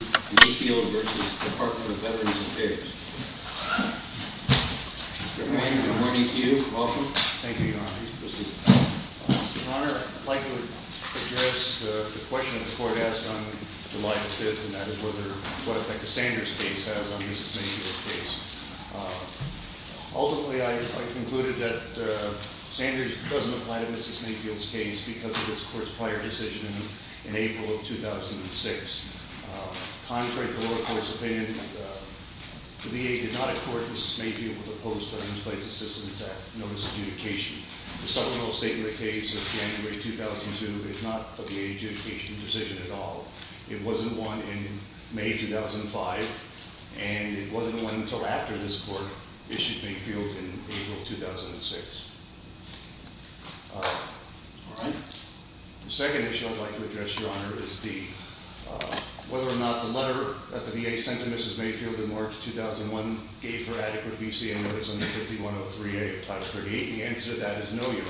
Mr. O'Connor, I'd like to address the question the court asked on July 5th, and that is what effect the Sanders case has on Mrs. Mayfield's case. Ultimately, I concluded that Sanders doesn't apply to Mrs. Mayfield's case because of this court's prior decision in April of 2006. Contrary to the lower court's opinion, the VA did not accord Mrs. Mayfield with a post for an in-place assistance notice of adjudication. The supplemental statement of the case of January 2002 is not a VA adjudication decision at all. It wasn't one in May 2005, and it wasn't one until after this court issued Mayfield in April 2006. All right. The second issue I'd like to address, Your Honor, is D. Whether or not the letter that the VA sent to Mrs. Mayfield in March 2001 gave her adequate VC and whether it's under 5103A of Title 38, the answer to that is no, Your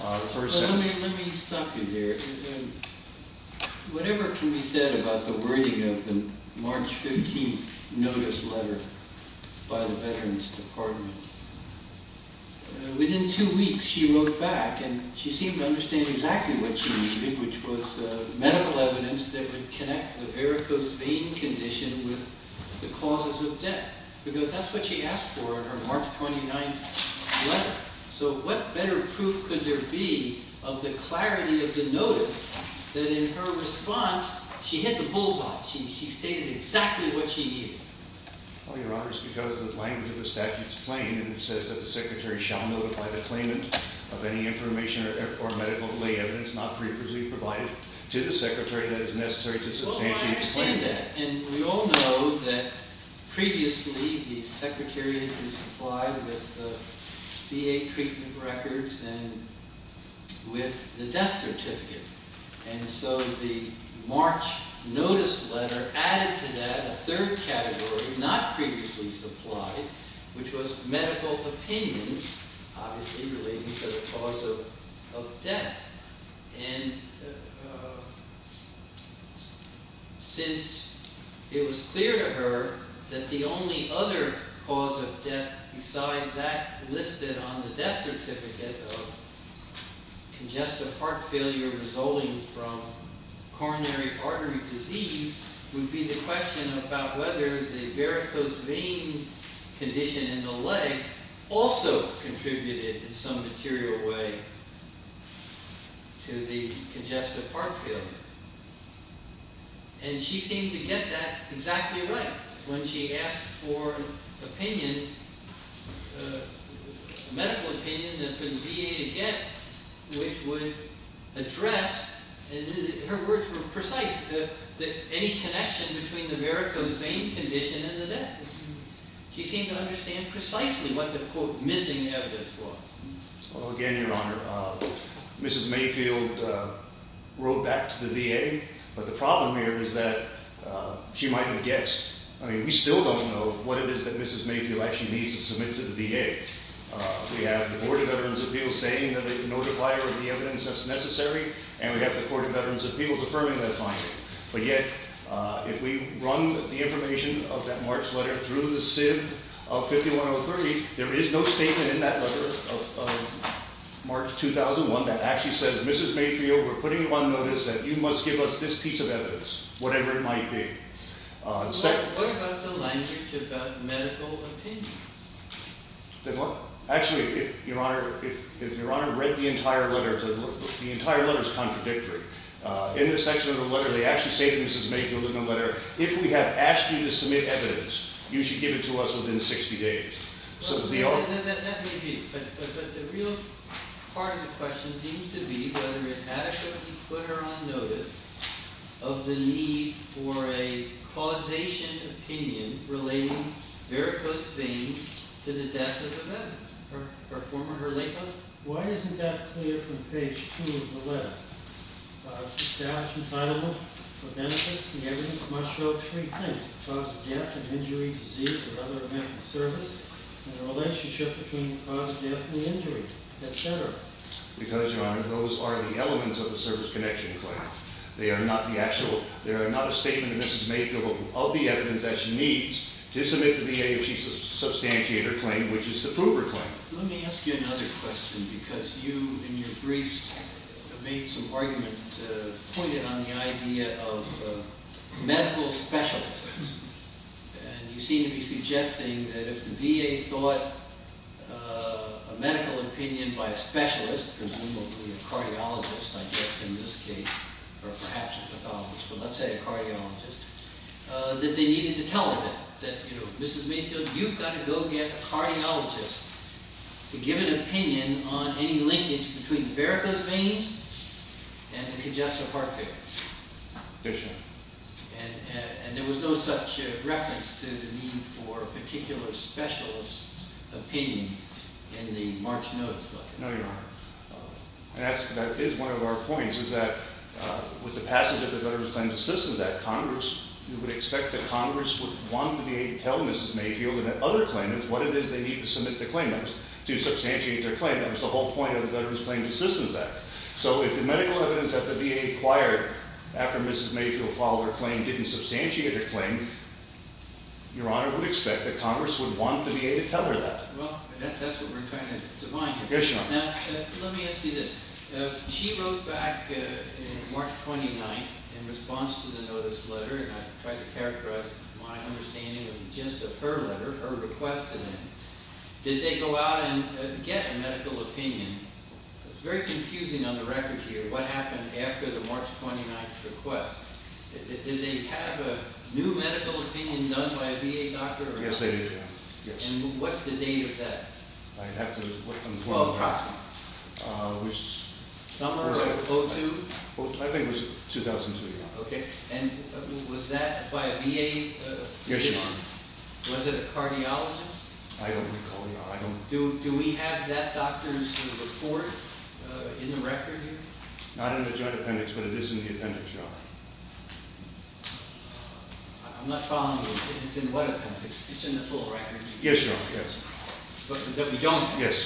Honor. Let me stop you there. Whatever can be said about the wording of the March 15th notice letter by the Veterans Department? Within two weeks, she wrote back, and she seemed to understand exactly what she needed, which was medical evidence that would connect the varicose vein condition with the causes of death, because that's what she asked for in her March 29th letter. So what better proof could there be of the clarity of the notice that, in her response, she hit the bullseye? She stated exactly what she needed. Well, Your Honor, it's because the language of the statute is plain, and it says that the secretary shall notify the claimant of any information or medical evidence not previously provided to the secretary that is necessary to substantially explain that. And we all know that previously the secretary had been supplied with the VA treatment records and with the death certificate. And so the March notice letter added to that a third category, not previously supplied, which was medical opinions, obviously relating to the cause of death. And since it was clear to her that the only other cause of death beside that listed on the death certificate of congestive heart failure resulting from coronary artery disease would be the question about whether the varicose vein condition in the legs also contributed in some material way. To the congestive heart failure. And she seemed to get that exactly right when she asked for opinion, medical opinion, that for the VA to get, which would address, and her words were precise, any connection between the varicose vein condition and the death. She seemed to understand precisely what the, quote, missing evidence was. Again, Your Honor, Mrs. Mayfield wrote back to the VA, but the problem here is that she might have guessed. I mean, we still don't know what it is that Mrs. Mayfield actually needs to submit to the VA. We have the Board of Veterans' Appeals saying that a notifier of the evidence that's necessary, and we have the Court of Veterans' Appeals affirming that finding. But yet, if we run the information of that March letter through the SIB of 5103, there is no statement in that letter of March 2001 that actually says, Mrs. Mayfield, we're putting you on notice that you must give us this piece of evidence, whatever it might be. What about the language about medical opinion? Actually, if Your Honor read the entire letter, the entire letter is contradictory. In this section of the letter, they actually say to Mrs. Mayfield in the letter, if we have asked you to submit evidence, you should give it to us within 60 days. That may be, but the real part of the question seems to be whether it adequately put her on notice of the need for a causation opinion relating vericose veins to the death of a veteran, her former, her late mother. Why isn't that clear from page two of the letter? Establish entitlement for benefits. The evidence must show three things, the cause of death, an injury, disease, or other medical service, and the relationship between the cause of death and the injury, et cetera. Because, Your Honor, those are the elements of the service connection claim. They are not the actual – they are not a statement of Mrs. Mayfield of the evidence that she needs to submit to the VA if she's to substantiate her claim, which is to prove her claim. Let me ask you another question because you, in your briefs, have made some argument, pointed on the idea of medical specialists. And you seem to be suggesting that if the VA thought a medical opinion by a specialist, presumably a cardiologist, I guess in this case, or perhaps a pathologist, but let's say a cardiologist, that they needed to tell her that. You know, Mrs. Mayfield, you've got to go get a cardiologist to give an opinion on any linkage between Verica's veins and congestive heart failure. Yes, Your Honor. And there was no such reference to the need for a particular specialist's opinion in the March notice letter. No, Your Honor. And that is one of our points, is that with the passage of the Veterans Claims Assistance Act, Congress would expect that Congress would want the VA to tell Mrs. Mayfield and other claimants what it is they need to submit to claimants to substantiate their claim. That was the whole point of the Veterans Claims Assistance Act. So if the medical evidence that the VA acquired after Mrs. Mayfield filed her claim didn't substantiate her claim, Your Honor would expect that Congress would want the VA to tell her that. Well, that's what we're trying to define here. Yes, Your Honor. Now, let me ask you this. She wrote back on March 29th in response to the notice letter, and I tried to characterize my understanding of just of her letter, her request, and then did they go out and get a medical opinion? It's very confusing on the record here what happened after the March 29th request. Did they have a new medical opinion done by a VA doctor? Yes, they did, Your Honor. Yes. And what's the date of that? I'd have to inform you, Your Honor. Well, approximately. Summer of 02? I think it was 2002, Your Honor. Okay. And was that by a VA physician? Yes, Your Honor. Was it a cardiologist? I don't recall, Your Honor. Do we have that doctor's report in the record here? Not in the joint appendix, but it is in the appendix, Your Honor. I'm not following you. It's in what appendix? It's in the full record? Yes, Your Honor. Yes. That we don't have? Yes.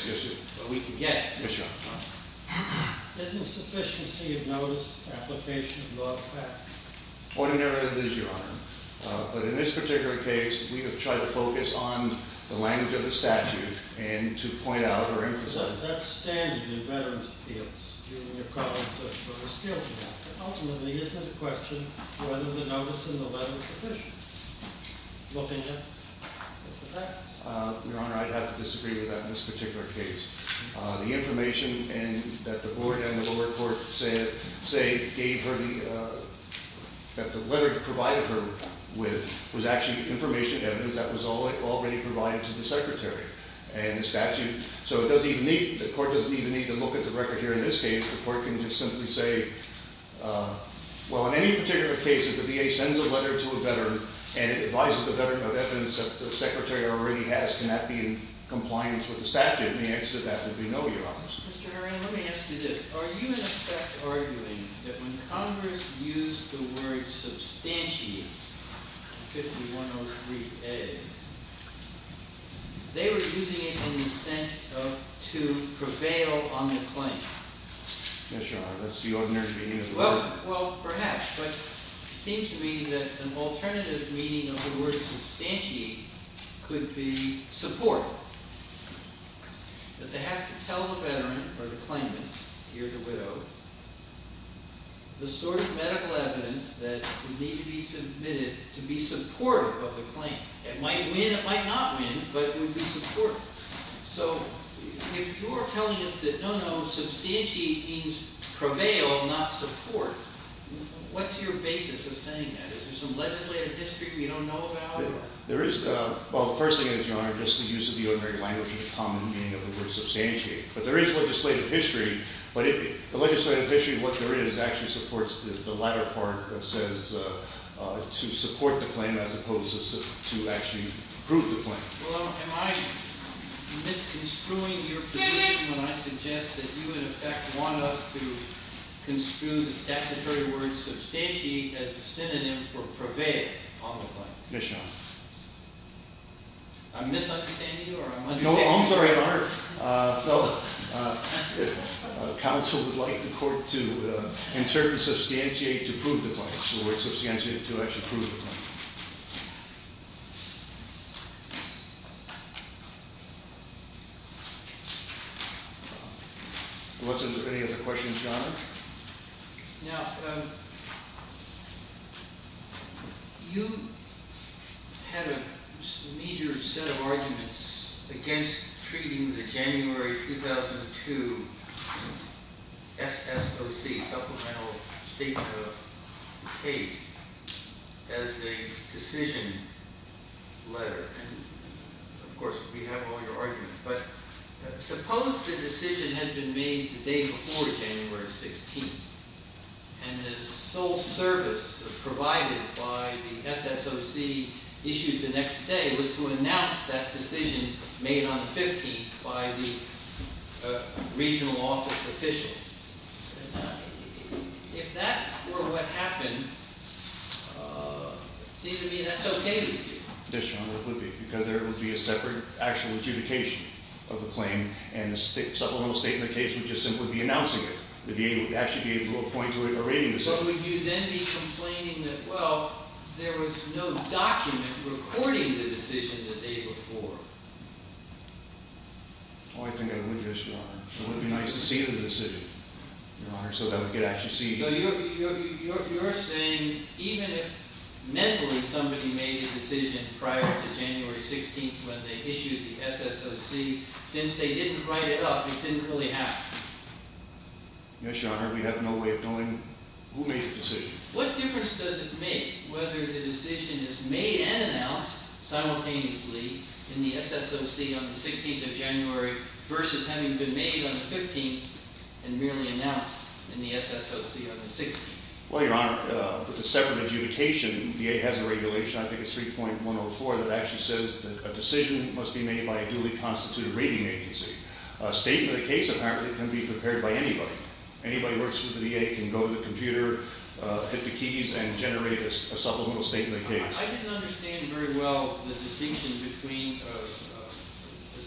That we can get? Yes, Your Honor. All right. Is insufficiency of notice an application of law a fact? Ordinarily, it is, Your Honor. But in this particular case, we have tried to focus on the language of the statute and to point out or emphasize it. But ultimately, isn't the question whether the notice in the letter is sufficient? Looking at the facts. Your Honor, I'd have to disagree with that in this particular case. The information that the board and the lower court say gave her, that the letter provided her with, was actually information evidence that was already provided to the Secretary and the statute. So the court doesn't even need to look at the record here in this case. The court can just simply say, well, in any particular case, if the VA sends a letter to a veteran and it advises the veteran of evidence that the Secretary already has, can that be in compliance with the statute? And the answer to that would be no, Your Honor. Mr. Herring, let me ask you this. Are you, in effect, arguing that when Congress used the word substantiate in 5103a, they were using it in the sense of to prevail on the claim? Yes, Your Honor. That's the ordinary meaning of the word. Well, perhaps. But it seems to me that an alternative meaning of the word substantiate could be support. That they have to tell the veteran or the claimant, he or the widow, the sort of medical evidence that would need to be submitted to be supportive of the claim. It might win, it might not win, but it would be supportive. So if you're telling us that no, no, substantiate means prevail, not support, what's your basis of saying that? Is there some legislative history we don't know about? There is, well, the first thing is, Your Honor, just the use of the ordinary language of the common meaning of the word substantiate. But there is legislative history. But the legislative history of what there is actually supports the latter part that says to support the claim as opposed to actually prove the claim. Well, am I misconstruing your position when I suggest that you, in effect, want us to construe the statutory word substantiate as a synonym for prevail on the claim? Yes, Your Honor. I'm misunderstanding you or I'm understanding you? No, I'm sorry, I'm hurt. Well, counsel would like the court to insert the substantiate to prove the claim, the word substantiate to actually prove the claim. Any other questions, Your Honor? Now, you had a major set of arguments against treating the January 2002 SSOC, Supplemental Data Case, as a decision letter. And, of course, we have all your arguments. But suppose the decision had been made the day before January 16th and the sole service provided by the SSOC issued the next day was to announce that decision made on the 15th by the regional office officials. If that were what happened, it seems to me that's okay with you. Yes, Your Honor, it would be. Because there would be a separate actual adjudication of the claim and the supplemental statement case would just simply be announcing it. It would actually be able to appoint to a rating decision. But would you then be complaining that, well, there was no document recording the decision the day before? Oh, I think I would, yes, Your Honor. It would be nice to see the decision, Your Honor, so that we could actually see it. So you're saying even if mentally somebody made a decision prior to January 16th when they issued the SSOC, since they didn't write it up, it didn't really happen? Yes, Your Honor, we have no way of knowing who made the decision. What difference does it make whether the decision is made and announced simultaneously in the SSOC on the 16th of January versus having been made on the 15th and merely announced in the SSOC on the 16th? Well, Your Honor, with the separate adjudication, VA has a regulation, I think it's 3.104, that actually says that a decision must be made by a duly constituted rating agency. A statement of the case apparently can be prepared by anybody. Anybody who works with the VA can go to the computer, hit the keys, and generate a supplemental statement of the case. I didn't understand very well the distinction between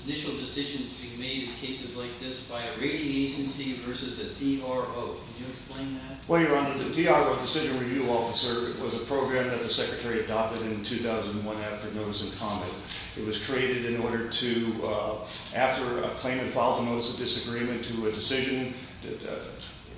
initial decisions being made in cases like this by a rating agency versus a DRO. Can you explain that? Well, Your Honor, the DRO, the Decision Review Officer, was a program that the Secretary adopted in 2001 after notice and comment. It was created in order to, after a claimant filed a notice of disagreement to a decision,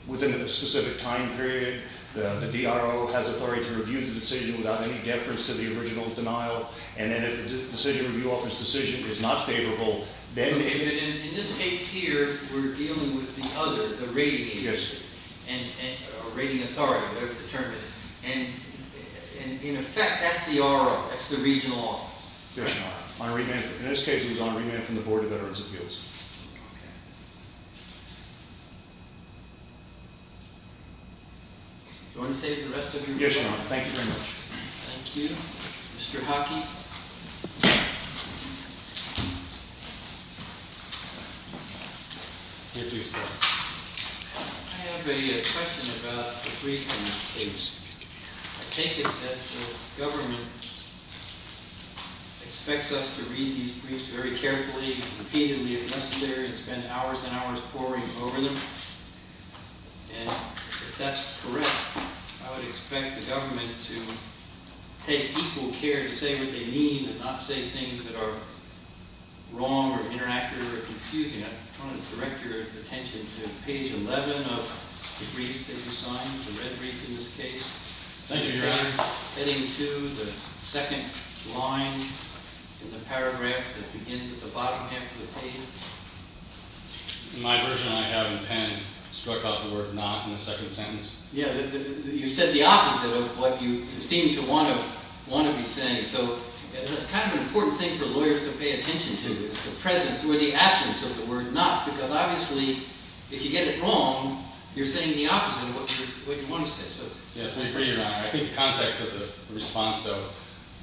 within a specific time period, the DRO has authority to review the decision without any deference to the original denial. And then if the Decision Review Officer's decision is not favorable, In this case here, we're dealing with the other, the rating agency, or rating authority, whatever the term is. And in effect, that's the RO, that's the Regional Office. Yes, Your Honor. In this case, it was on remand from the Board of Veterans' Appeals. Okay. Do you want to save the rest of your time? Yes, Your Honor. Thank you very much. Thank you. Mr. Hockey? Yes, Your Honor. I have a question about the brief in this case. I take it that the government expects us to read these briefs very carefully, repeatedly if necessary, and spend hours and hours poring over them. And if that's correct, I would expect the government to take equal care to say what they mean and not say things that are wrong or inaccurate or confusing. I want to direct your attention to page 11 of the brief that you signed, the red brief in this case. Thank you, Your Honor. Heading to the second line in the paragraph that begins at the bottom half of the page. My version I have in pen struck out the word not in the second sentence. Yeah, you said the opposite of what you seem to want to be saying. So it's kind of an important thing for lawyers to pay attention to, the presence or the absence of the word not, because obviously, if you get it wrong, you're saying the opposite of what you want to say. Yes, I agree, Your Honor. I think the context of the response, though,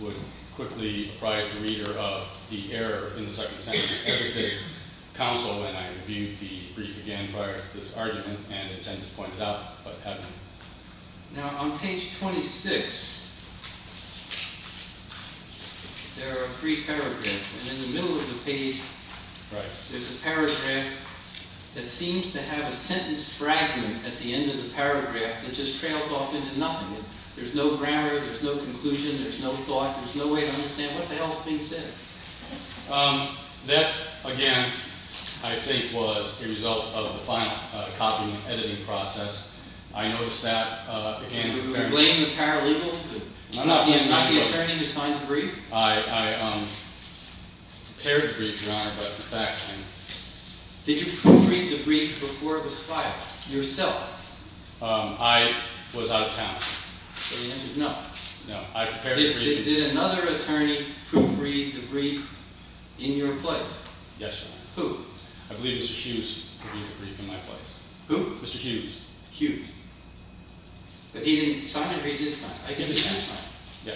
would quickly apprise the reader of the error in the second sentence. Every day counsel and I reviewed the brief again prior to this argument and attempted to point it out, but haven't. Now, on page 26, there are three paragraphs, and in the middle of the page, there's a paragraph that seems to have a sentence fragment at the end of the paragraph that just trails off into nothing. There's no grammar. There's no conclusion. There's no thought. There's no way to understand what the hell is being said. That, again, I think was a result of the final copying and editing process. I noticed that, again, You blame the paralegals, not the attorney who signed the brief? I prepared the brief, Your Honor, but in fact I didn't. Did you proofread the brief before it was filed, yourself? I was out of town. So the answer is no. No, I prepared the brief. Did another attorney proofread the brief in your place? Yes, Your Honor. Who? I believe Mr. Hughes proofread the brief in my place. Who? Mr. Hughes. Hughes. But he didn't sign the brief, did he? He did sign it. Yeah.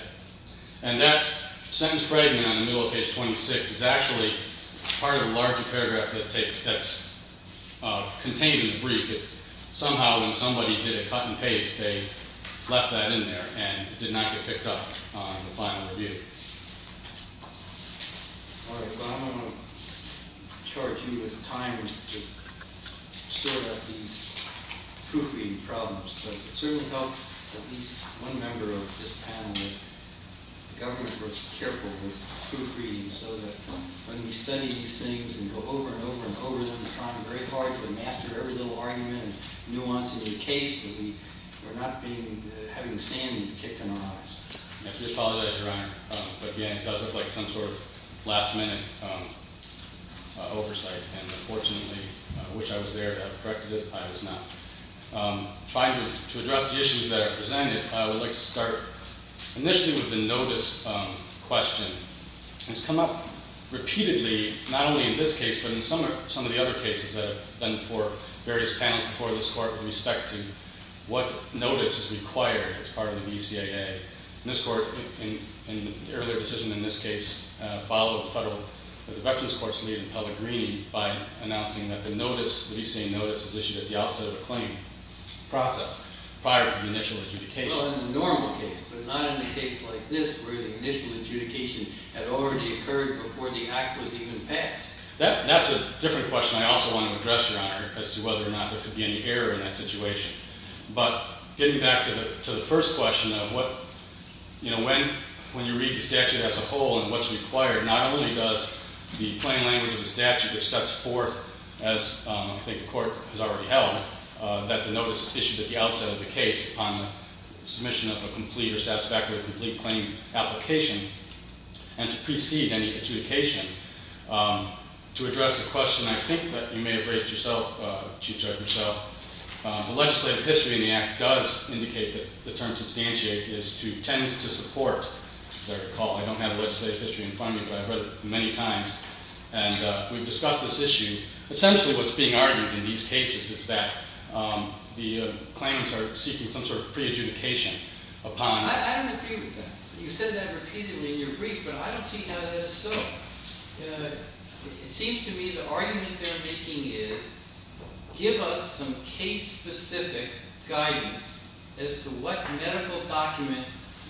And that sentence fragment in the middle of page 26 is actually part of a larger paragraph that's contained in the brief. Somehow, when somebody did a cut and paste, they left that in there and did not get picked up on the final review. All right. Well, I don't want to charge you with time to sort out these proofreading problems, but it certainly helped at least one member of this panel that the government was careful with proofreading so that when we study these things and go over and over and over them, we're trying very hard to master every little argument and nuance in the case so that we're not having the standing kicked in our eyes. I just apologize, Your Honor. Again, it does look like some sort of last minute oversight, and unfortunately, which I was there to have corrected it, I was not. Trying to address the issues that are presented, I would like to start initially with the notice question. It's come up repeatedly, not only in this case, but in some of the other cases that have been before various panels before this court with respect to what notice is required as part of the DCAA. This court, in the earlier decision in this case, followed the Federal Corrections Court's lead in Pellegrini by announcing that the notice, the DCAA notice, is issued at the outset of a claim process prior to the initial adjudication. Well, in the normal case, but not in a case like this where the initial adjudication had already occurred before the act was even passed. That's a different question I also want to address, Your Honor, as to whether or not there could be any error in that situation. But getting back to the first question of what, you know, when you read the statute as a whole and what's required, not only does the plain language of the statute, which sets forth, as I think the court has already held, that the notice is issued at the outset of the case upon the submission of a complete or satisfactory or complete claim application, and to precede any adjudication. To address the question I think that you may have raised yourself, Chief Judge, yourself, the legislative history in the act does indicate that the term substantiate is to tend to support, as I recall, I don't have legislative history in front of me, but I've read it many times, and we've discussed this issue. Essentially what's being argued in these cases is that the claims are seeking some sort of pre-adjudication upon I don't agree with that. You said that repeatedly in your brief, but I don't see how that is so. It seems to me the argument they're making is give us some case-specific guidance as to what medical document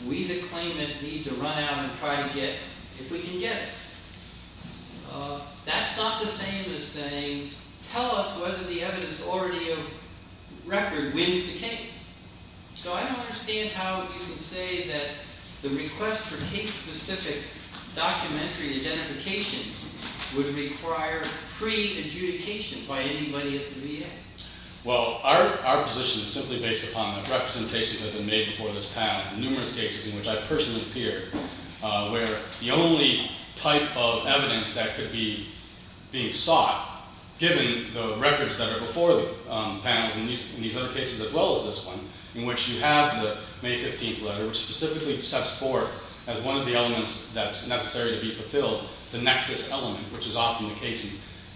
we the claimant need to run out and try to get if we can get it. That's not the same as saying tell us whether the evidence already of record wins the case. So I don't understand how you would say that the request for case-specific documentary identification would require pre-adjudication by anybody at the VA. Well, our position is simply based upon the representations that have been made before this panel. Numerous cases in which I personally appear where the only type of evidence that could be being sought, given the records that are before the panels in these other cases as well as this one, in which you have the May 15th letter, which specifically sets forth as one of the elements that's necessary to be fulfilled the nexus element, which is often the case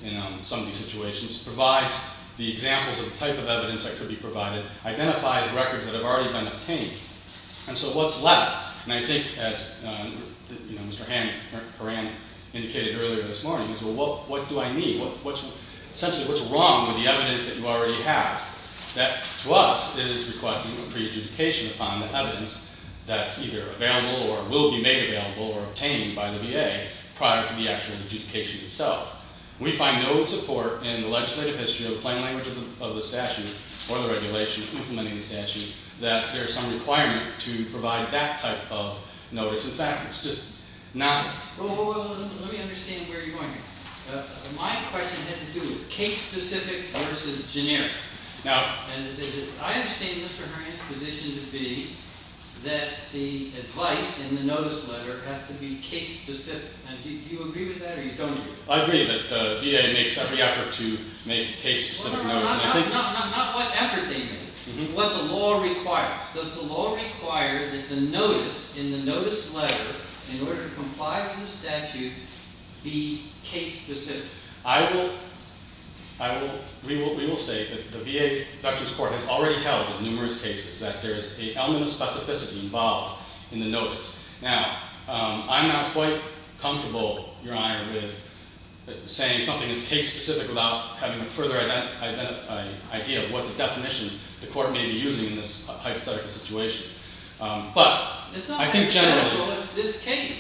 in some of these situations, provides the examples of the type of evidence that could be provided, identifies records that have already been obtained. And so what's left? And I think, as Mr. Hammond or Anne indicated earlier this morning, is well, what do I need? Essentially, what's wrong with the evidence that you already have? That to us is requesting pre-adjudication upon the evidence that's either available or will be made available or obtained by the VA prior to the actual adjudication itself. We find no support in the legislative history of the plain language of the statute or the regulation implementing the statute that there's some requirement to provide that type of notice. In fact, it's just not. Well, let me understand where you're going here. My question had to do with case-specific versus generic. Now, I understand Mr. Herring's position to be that the advice in the notice letter has to be case-specific. Do you agree with that or you don't agree? I agree that the VA makes every effort to make case-specific notice. Not what effort they make. What the law requires. Does the law require that the notice in the notice letter, in order to comply with the statute, be case-specific? We will say that the VA Doctrine's Court has already held in numerous cases that there is a element of specificity involved in the notice. Now, I'm not quite comfortable, Your Honor, with saying something is case-specific without having a further idea of what the definition the court may be using in this hypothetical situation. It's not hypothetical. It's this case.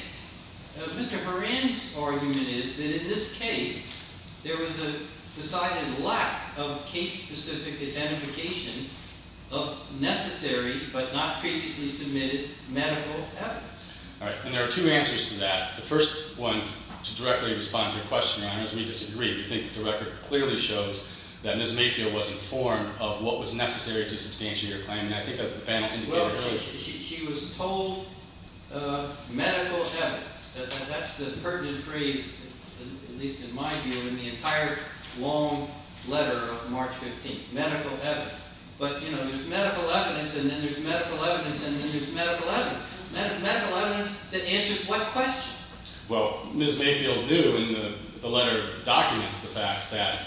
Mr. Herring's argument is that in this case, there was a decided lack of case-specific identification of necessary but not previously submitted medical evidence. All right. And there are two answers to that. The first one, to directly respond to your question, Your Honor, is we disagree. We think that the record clearly shows that Ms. Mayfield was informed of what was necessary to substantiate her claim. Well, she was told medical evidence. That's the pertinent phrase, at least in my view, in the entire long letter of March 15th. Medical evidence. But, you know, there's medical evidence, and then there's medical evidence, and then there's medical evidence. Medical evidence that answers what question? Well, Ms. Mayfield knew in the letter documents the fact that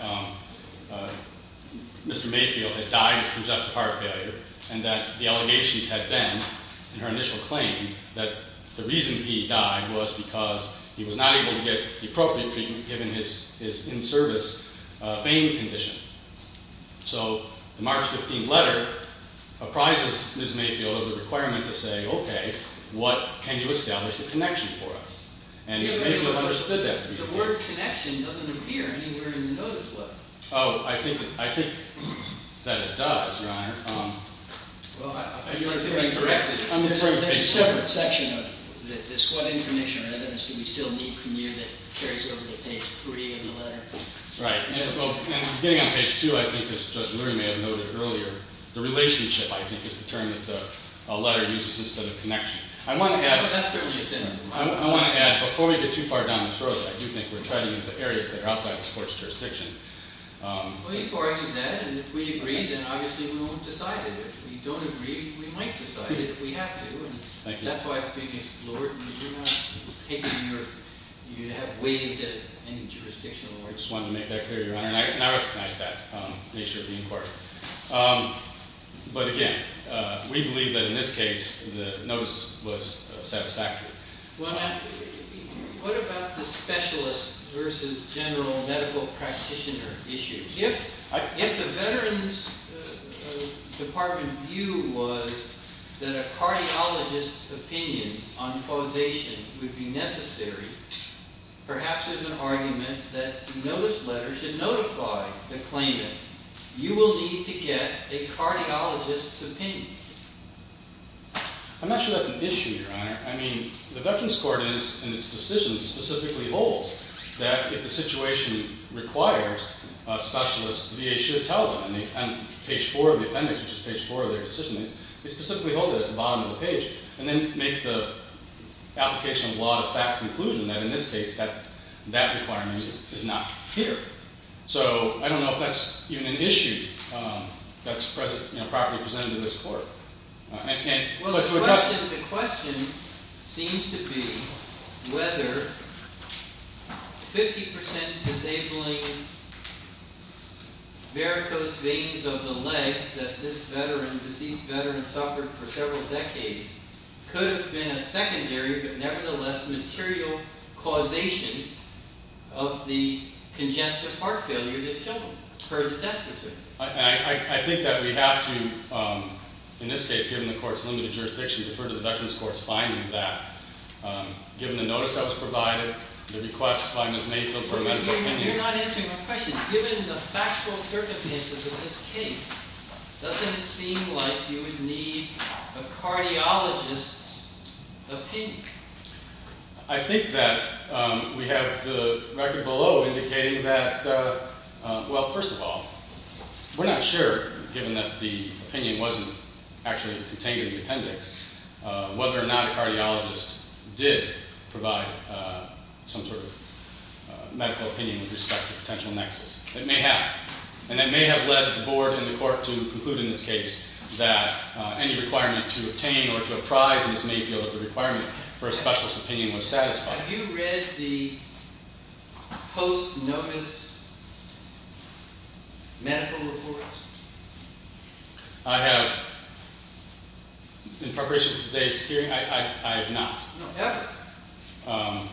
Mr. Mayfield had died of congestive heart failure and that the allegations had been in her initial claim that the reason he died was because he was not able to get the appropriate treatment given his in-service vein condition. So the March 15th letter apprises Ms. Mayfield of the requirement to say, okay, what can you establish a connection for us? And Ms. Mayfield understood that to be the case. The word connection doesn't appear anywhere in the notice book. Oh, I think that it does, Your Honor. Well, you are very correct. I'm referring to page 3. There's a separate section of this what information or evidence do we still need from you that carries over to page 3 in the letter. Right. And getting on page 2, I think, as Judge Lurie may have noted earlier, the relationship, I think, is the term that the letter uses instead of connection. That's certainly a synonym. I want to add, before we get too far down this road, I do think we're treading into areas that are outside this court's jurisdiction. Well, you've argued that, and if we agree, then obviously we won't decide it. If we don't agree, we might decide it if we have to. Thank you. That's why I think, Lord, you have waived any jurisdiction. I just wanted to make that clear, Your Honor, and I recognize that nature of the inquiry. But again, we believe that in this case the notice was satisfactory. What about the specialist versus general medical practitioner issue? If the Veterans Department view was that a cardiologist's opinion on causation would be necessary, perhaps there's an argument that the notice letter should notify the claimant. You will need to get a cardiologist's opinion. I'm not sure that's an issue, Your Honor. I mean, the Veterans Court in its decision specifically holds that if the situation requires a specialist, the VA should tell them. On page 4 of the appendix, which is page 4 of their decision, they specifically hold it at the bottom of the page and then make the application of law to fact conclusion that in this case that requirement is not here. So I don't know if that's even an issue that's properly presented to this court. Well, the question seems to be whether 50% disabling varicose veins of the legs that this veteran, deceased veteran, suffered for several decades could have been a secondary but nevertheless material causation of the congestive heart failure that killed her, the death of her. I think that we have to, in this case, given the court's limited jurisdiction, defer to the Veterans Court's finding that, given the notice that was provided, the request by Ms. Mansfield for a medical opinion. You're not answering my question. Given the factual circumstances of this case, doesn't it seem like you would need a cardiologist's opinion? I think that we have the record below indicating that, well, first of all, we're not sure, given that the opinion wasn't actually contained in the appendix, whether or not a cardiologist did provide some sort of medical opinion with respect to potential nexus. It may have. And it may have led the board and the court to conclude in this case that any requirement to obtain or to apprise in this main field of the requirement for a specialist opinion was satisfied. Have you read the post-notice medical report? I have. In preparation for today's hearing, I have not. No. Ever?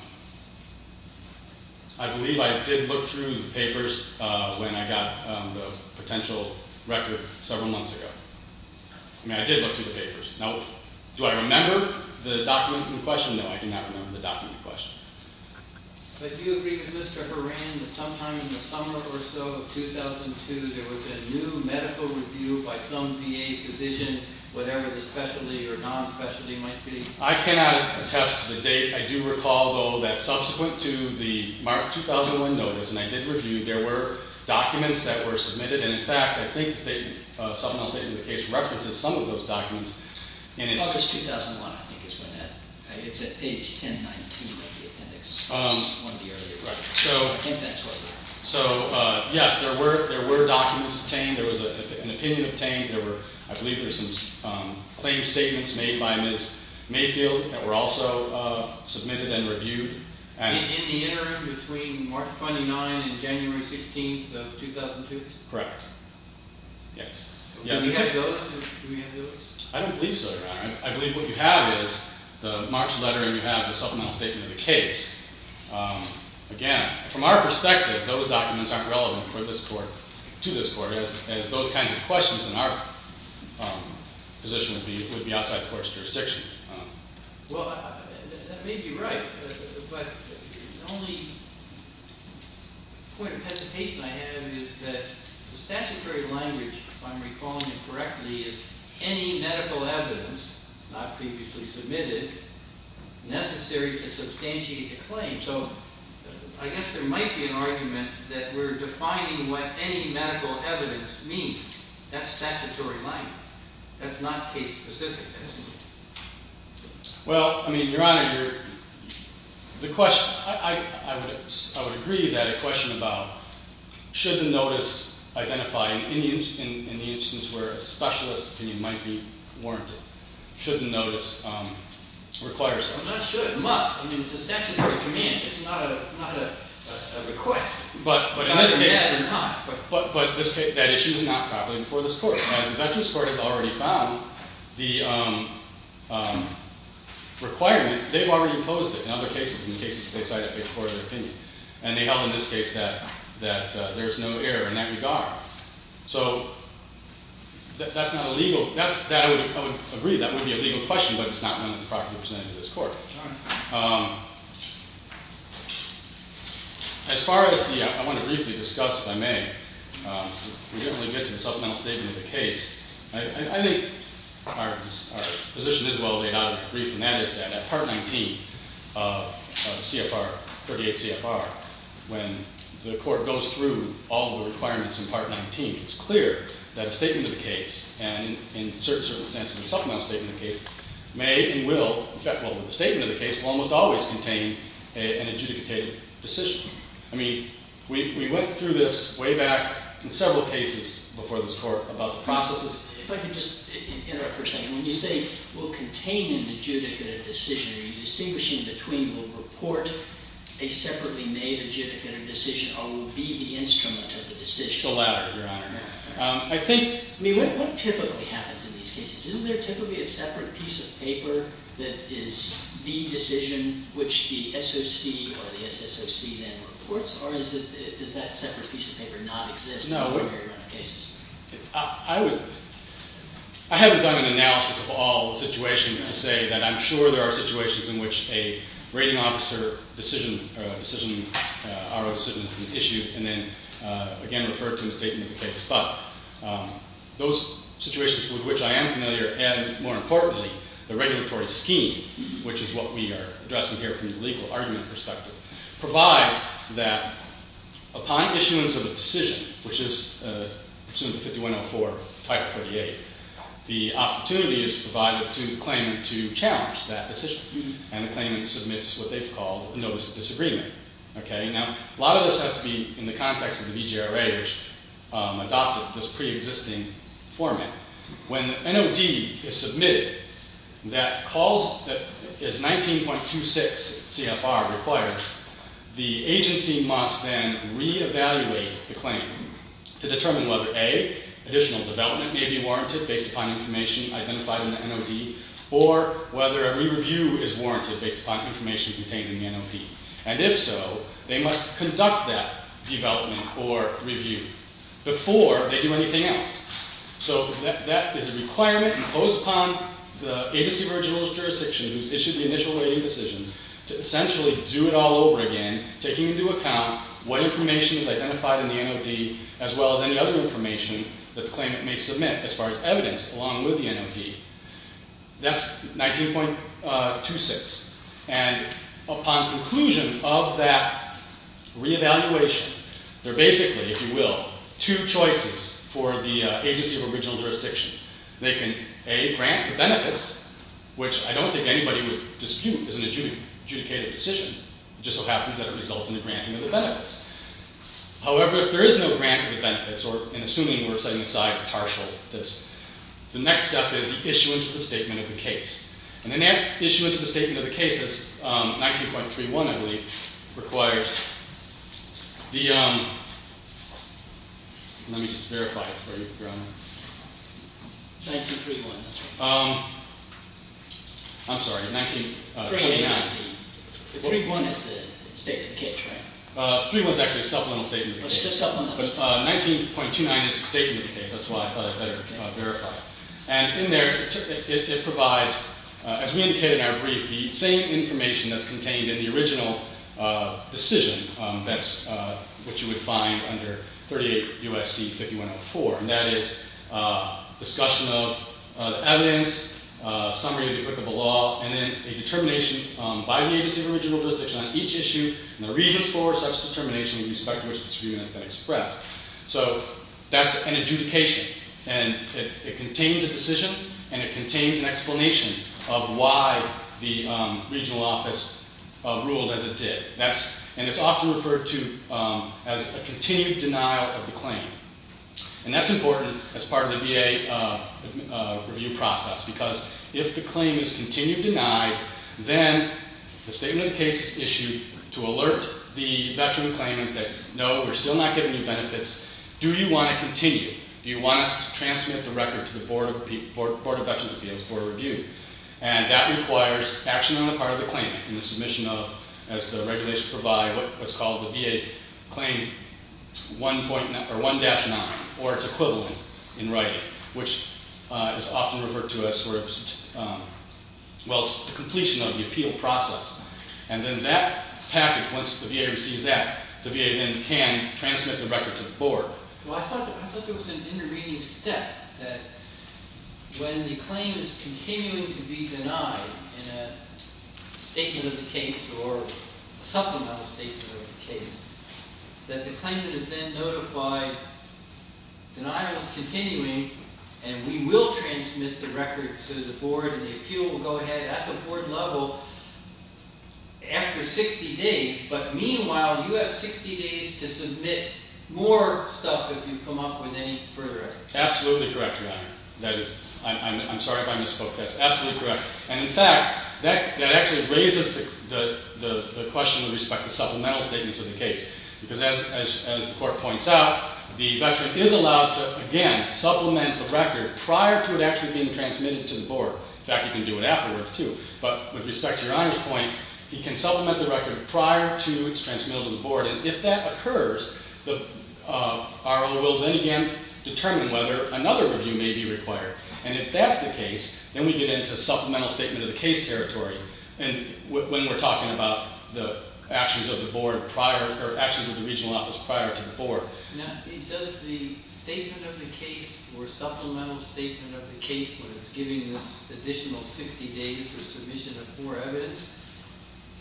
I believe I did look through the papers when I got the potential record several months ago. I mean, I did look through the papers. Now, do I remember the document in question? No, I do not remember the document in question. But do you agree with Mr. Horan that sometime in the summer or so of 2002, there was a new medical review by some VA physician, whatever the specialty or non-specialty might be? I cannot attest to the date. I do recall, though, that subsequent to the March 2001 notice, and I did review, there were documents that were submitted. And, in fact, I think the subpoena statement in the case references some of those documents. August 2001, I think is when that – it's at page 1019 of the appendix. Right. I think that's what it was. So, yes, there were documents obtained. There was an opinion obtained. I believe there were some claim statements made by Ms. Mayfield that were also submitted and reviewed. In the interim between March 29 and January 16 of 2002? Correct. Yes. Do we have those? I don't believe so, Your Honor. I believe what you have is the March letter, and you have the supplemental statement of the case. Again, from our perspective, those documents aren't relevant to this court as those kinds of questions in our position would be outside the court's jurisdiction. Well, that may be right, but the only point of hesitation I have is that the statutory language, if I'm recalling it correctly, is any medical evidence, not previously submitted, necessary to substantiate a claim. So I guess there might be an argument that we're defining what any medical evidence means. That's statutory language. That's not case-specific, isn't it? Well, I mean, Your Honor, I would agree that a question about should the notice identify, in the instance where a specialist opinion might be warranted, should the notice require something? It should. It must. I mean, it's a statutory command. It's not a request. But in this case, that issue is not properly before this court. As the Dutchess Court has already found, the requirement, they've already imposed it in other cases, in cases they cite it before their opinion. And they held in this case that there's no error in that regard. So that's not a legal – I would agree that would be a legal question, but it's not one that's properly presented to this court. As far as the – I want to briefly discuss, if I may, we didn't really get to the supplemental statement of the case. I think our position is well laid out in the brief, and that is that at Part 19 of CFR – 38 CFR, when the court goes through all the requirements in Part 19, it's clear that a statement of the case, and in certain circumstances a supplemental statement of the case, may and will – well, the statement of the case will almost always contain an adjudicated decision. I mean, we went through this way back in several cases before this court about the processes. If I could just interrupt for a second. When you say will contain an adjudicated decision, are you distinguishing between the report, a separately made adjudicated decision, or will it be the instrument of the decision? The latter, Your Honor. I think – I mean, what typically happens in these cases? Isn't there typically a separate piece of paper that is the decision which the SOC or the SSOC then reports? Or does that separate piece of paper not exist in a large number of cases? I would – I haven't done an analysis of all the situations to say that I'm sure there are situations in which a rating officer decision – decision – RO decision is issued and then, again, referred to in the statement of the case. But those situations with which I am familiar and, more importantly, the regulatory scheme, which is what we are addressing here from the legal argument perspective, provides that upon issuance of a decision, which is pursuant to 5104, Title 48, the opportunity is provided to the claimant to challenge that decision. And the claimant submits what they've called a notice of disagreement. Okay? Now, a lot of this has to be in the context of the DGRA, which adopted this preexisting format. When the NOD is submitted, that calls – is 19.26 CFR required. The agency must then reevaluate the claim to determine whether, A, additional development may be warranted based upon information identified in the NOD, or whether a re-review is warranted based upon information contained in the NOD. And if so, they must conduct that development or review before they do anything else. So that is a requirement imposed upon the agency of original jurisdiction who's issued the initial rating decision to essentially do it all over again, taking into account what information is identified in the NOD as well as any other information that the claimant may submit as far as evidence along with the NOD. That's 19.26. And upon conclusion of that reevaluation, there are basically, if you will, two choices for the agency of original jurisdiction. They can, A, grant the benefits, which I don't think anybody would dispute is an adjudicated decision. It just so happens that it results in the granting of the benefits. However, if there is no grant of the benefits, or in assuming we're setting aside partial, the next step is the issuance of the statement of the case. And an issuance of the statement of the case is 19.31, I believe, requires the, let me just verify it for you, Your Honor. 19.31, that's right. I'm sorry, 19.29. The 3.1 is the statement of the case, right? 3.1 is actually a supplemental statement of the case. Oh, it's just supplemental. But 19.29 is the statement of the case. That's why I thought I'd better verify it. And in there, it provides, as we indicated in our brief, the same information that's contained in the original decision, which you would find under 38 U.S.C. 5104. And that is discussion of the evidence, summary of the applicable law, and then a determination by the agency of original jurisdiction on each issue and the reasons for such determination in respect to which this agreement has been expressed. So that's an adjudication. And it contains a decision, and it contains an explanation of why the regional office ruled as it did. And it's often referred to as a continued denial of the claim. And that's important as part of the VA review process because if the claim is continued denied, then the statement of the case is issued to alert the veteran claimant that, no, we're still not giving you benefits. Do you want to continue? Do you want us to transmit the record to the Board of Veterans' Appeals Board of Review? And that requires action on the part of the claimant in the submission of, as the regulations provide, what's called the VA claim 1.9 or 1-9 or its equivalent in writing, which is often referred to as sort of, well, it's the completion of the appeal process. And then that package, once the VA receives that, the VA then can transmit the record to the board. Well, I thought there was an intervening step that when the claim is continuing to be denied in a statement of the case or supplemental statement of the case, that the claimant is then notified, denial is continuing, and we will transmit the record to the board, and the appeal will go ahead at the board level after 60 days. But meanwhile, you have 60 days to submit more stuff if you come up with any further edits. Absolutely correct, Your Honor. I'm sorry if I misspoke. That's absolutely correct. And in fact, that actually raises the question with respect to supplemental statements of the case. Because as the court points out, the veteran is allowed to, again, supplement the record prior to it actually being transmitted to the board. In fact, he can do it afterwards too. But with respect to Your Honor's point, he can supplement the record prior to it's transmitted to the board. And if that occurs, our order will then again determine whether another review may be required. And if that's the case, then we get into supplemental statement of the case territory when we're talking about the actions of the board prior or actions of the regional office prior to the board. Now, he says the statement of the case or supplemental statement of the case when it's giving this additional 60 days for submission of more evidence,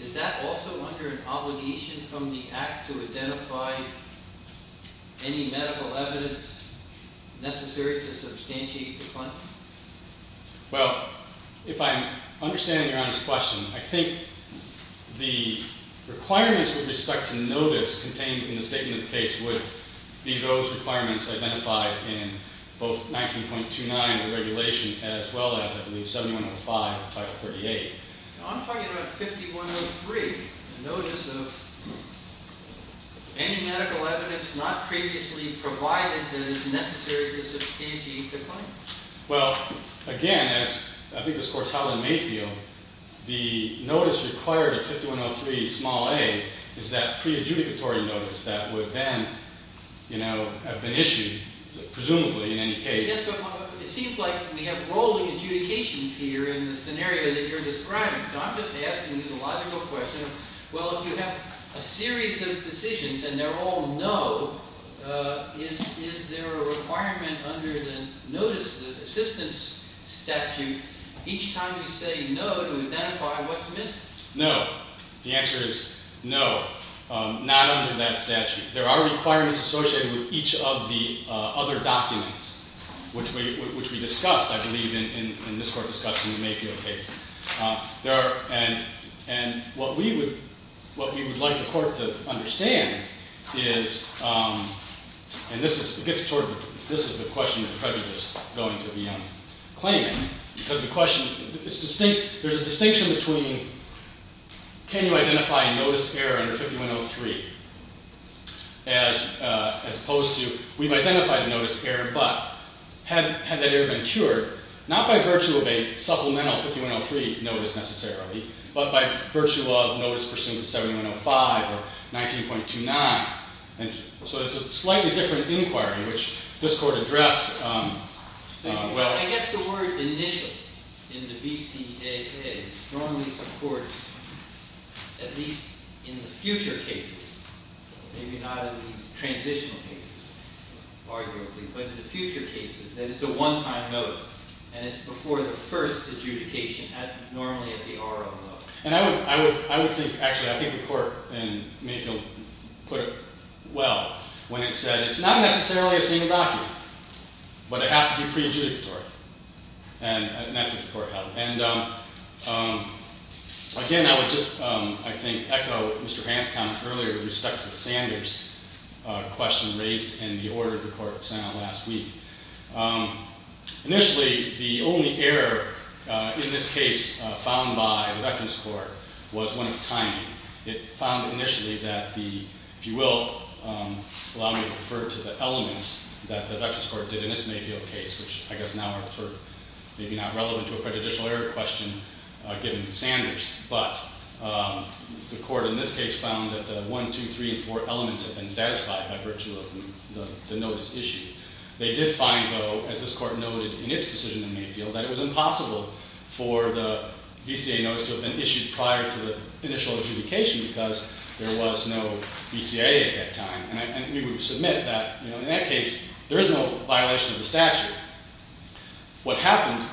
is that also under an obligation from the act to identify any medical evidence necessary to substantiate the claim? Well, if I understand Your Honor's question, I think the requirements with respect to notice contained in the statement of the case would be those requirements identified in both 19.29, the regulation, as well as, I believe, 7105, Title 38. I'm talking about 5103, the notice of any medical evidence not previously provided that is necessary to substantiate the claim. Well, again, as I think this court's held in Mayfield, the notice required of 5103 small a is that pre-adjudicatory notice that would then have been issued, presumably, in any case. Yes, but it seems like we have rolling adjudications here in the scenario that you're describing. So I'm just asking a logical question. Well, if you have a series of decisions and they're all no, is there a requirement under the notice assistance statute each time you say no to identify what's missing? No. The answer is no, not under that statute. There are requirements associated with each of the other documents, which we discussed, I believe, in this court discussion in Mayfield case. And what we would like the court to understand is, and this is the question that the President is going to be claiming, because the question is distinct. There's a distinction between can you identify a notice error under 5103 as opposed to we've identified a notice error, but had that error been cured, not by virtue of a supplemental 5103 notice necessarily, but by virtue of notice pursuant to 7105 or 19.29. So it's a slightly different inquiry, which this court addressed. I guess the word initial in the VCAA strongly supports, at least in the future cases, maybe not in these transitional cases, arguably, but in the future cases, that it's a one-time notice. And it's before the first adjudication, normally at the R01. And I would think, actually, I think the court in Mayfield put it well when it said it's not necessarily a single document, but it has to be pre-adjudicatory. And that's what the court held. And again, I would just, I think, echo Mr. Hanscom's comment earlier with respect to the Sanders question raised in the order the court sent out last week. Initially, the only error in this case found by the Veterans Court was one of timing. It found initially that the, if you will allow me to refer to the elements that the Veterans Court did in its Mayfield case, which I guess now are maybe not relevant to a prejudicial error question given Sanders. But the court in this case found that the one, two, three, and four elements had been satisfied by virtue of the notice issue. They did find, though, as this court noted in its decision in Mayfield, that it was impossible for the VCA notice to have been issued prior to the initial adjudication because there was no VCA at that time. And we would submit that in that case, there is no violation of the statute. What happened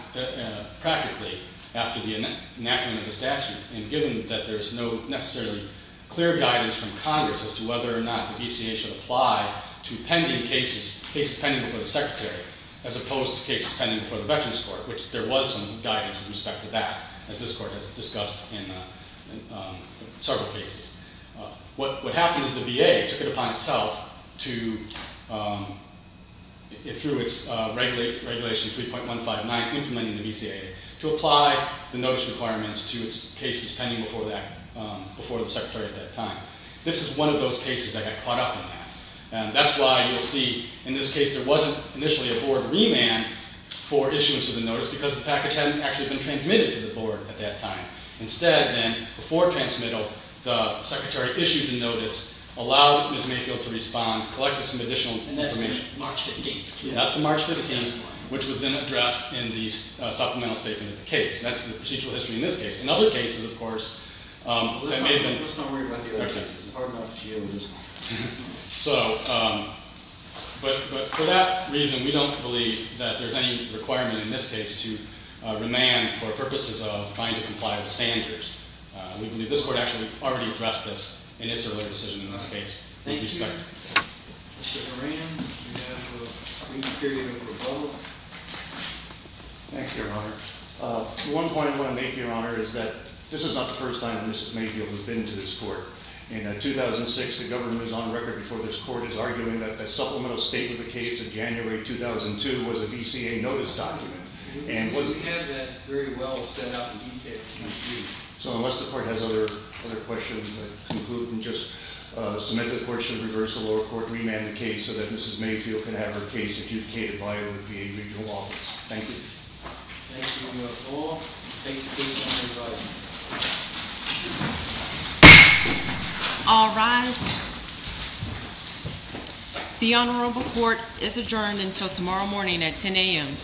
practically after the enactment of the statute, and given that there is no necessarily clear guidance from Congress as to whether or not the VCA should apply to pending cases, cases pending before the secretary, as opposed to cases pending before the Veterans Court, which there was some guidance with respect to that, as this court has discussed in several cases. What happened is the VA took it upon itself to, through its regulation 3.159 implementing the VCA, to apply the notice requirements to its cases pending before the secretary at that time. This is one of those cases that got caught up in that. And that's why you'll see in this case there wasn't initially a board remand for issuance of the notice because the package hadn't actually been transmitted to the board at that time. Instead, then, before transmittal, the secretary issued a notice, allowed Ms. Mayfield to respond, collected some additional information. And that's March 15th. Yeah, that's March 15th, which was then addressed in the supplemental statement of the case. That's the procedural history in this case. In other cases, of course, that may have been… Let's not worry about the other cases. So, but for that reason, we don't believe that there's any requirement in this case to remand for purposes of trying to comply with Sanders. We believe this court actually already addressed this in its earlier decision in this case. Thank you, sir. Mr. Moran, you have a brief period of rebuttal. Thank you, Your Honor. One point I want to make, Your Honor, is that this is not the first time that Mrs. Mayfield has been to this court. In 2006, the government was on record before this court as arguing that the supplemental statement of the case of January 2002 was a VCA notice document. And what… We have that very well set out in the case. Thank you. So, unless the court has other questions, I conclude and just submit that the court should reverse the lower court and remand the case so that Mrs. Mayfield can have her case adjudicated by a VCA regional office. Thank you. Thank you, Your Honor. All rise. The Honorable Court is adjourned until tomorrow morning at 10 a.m.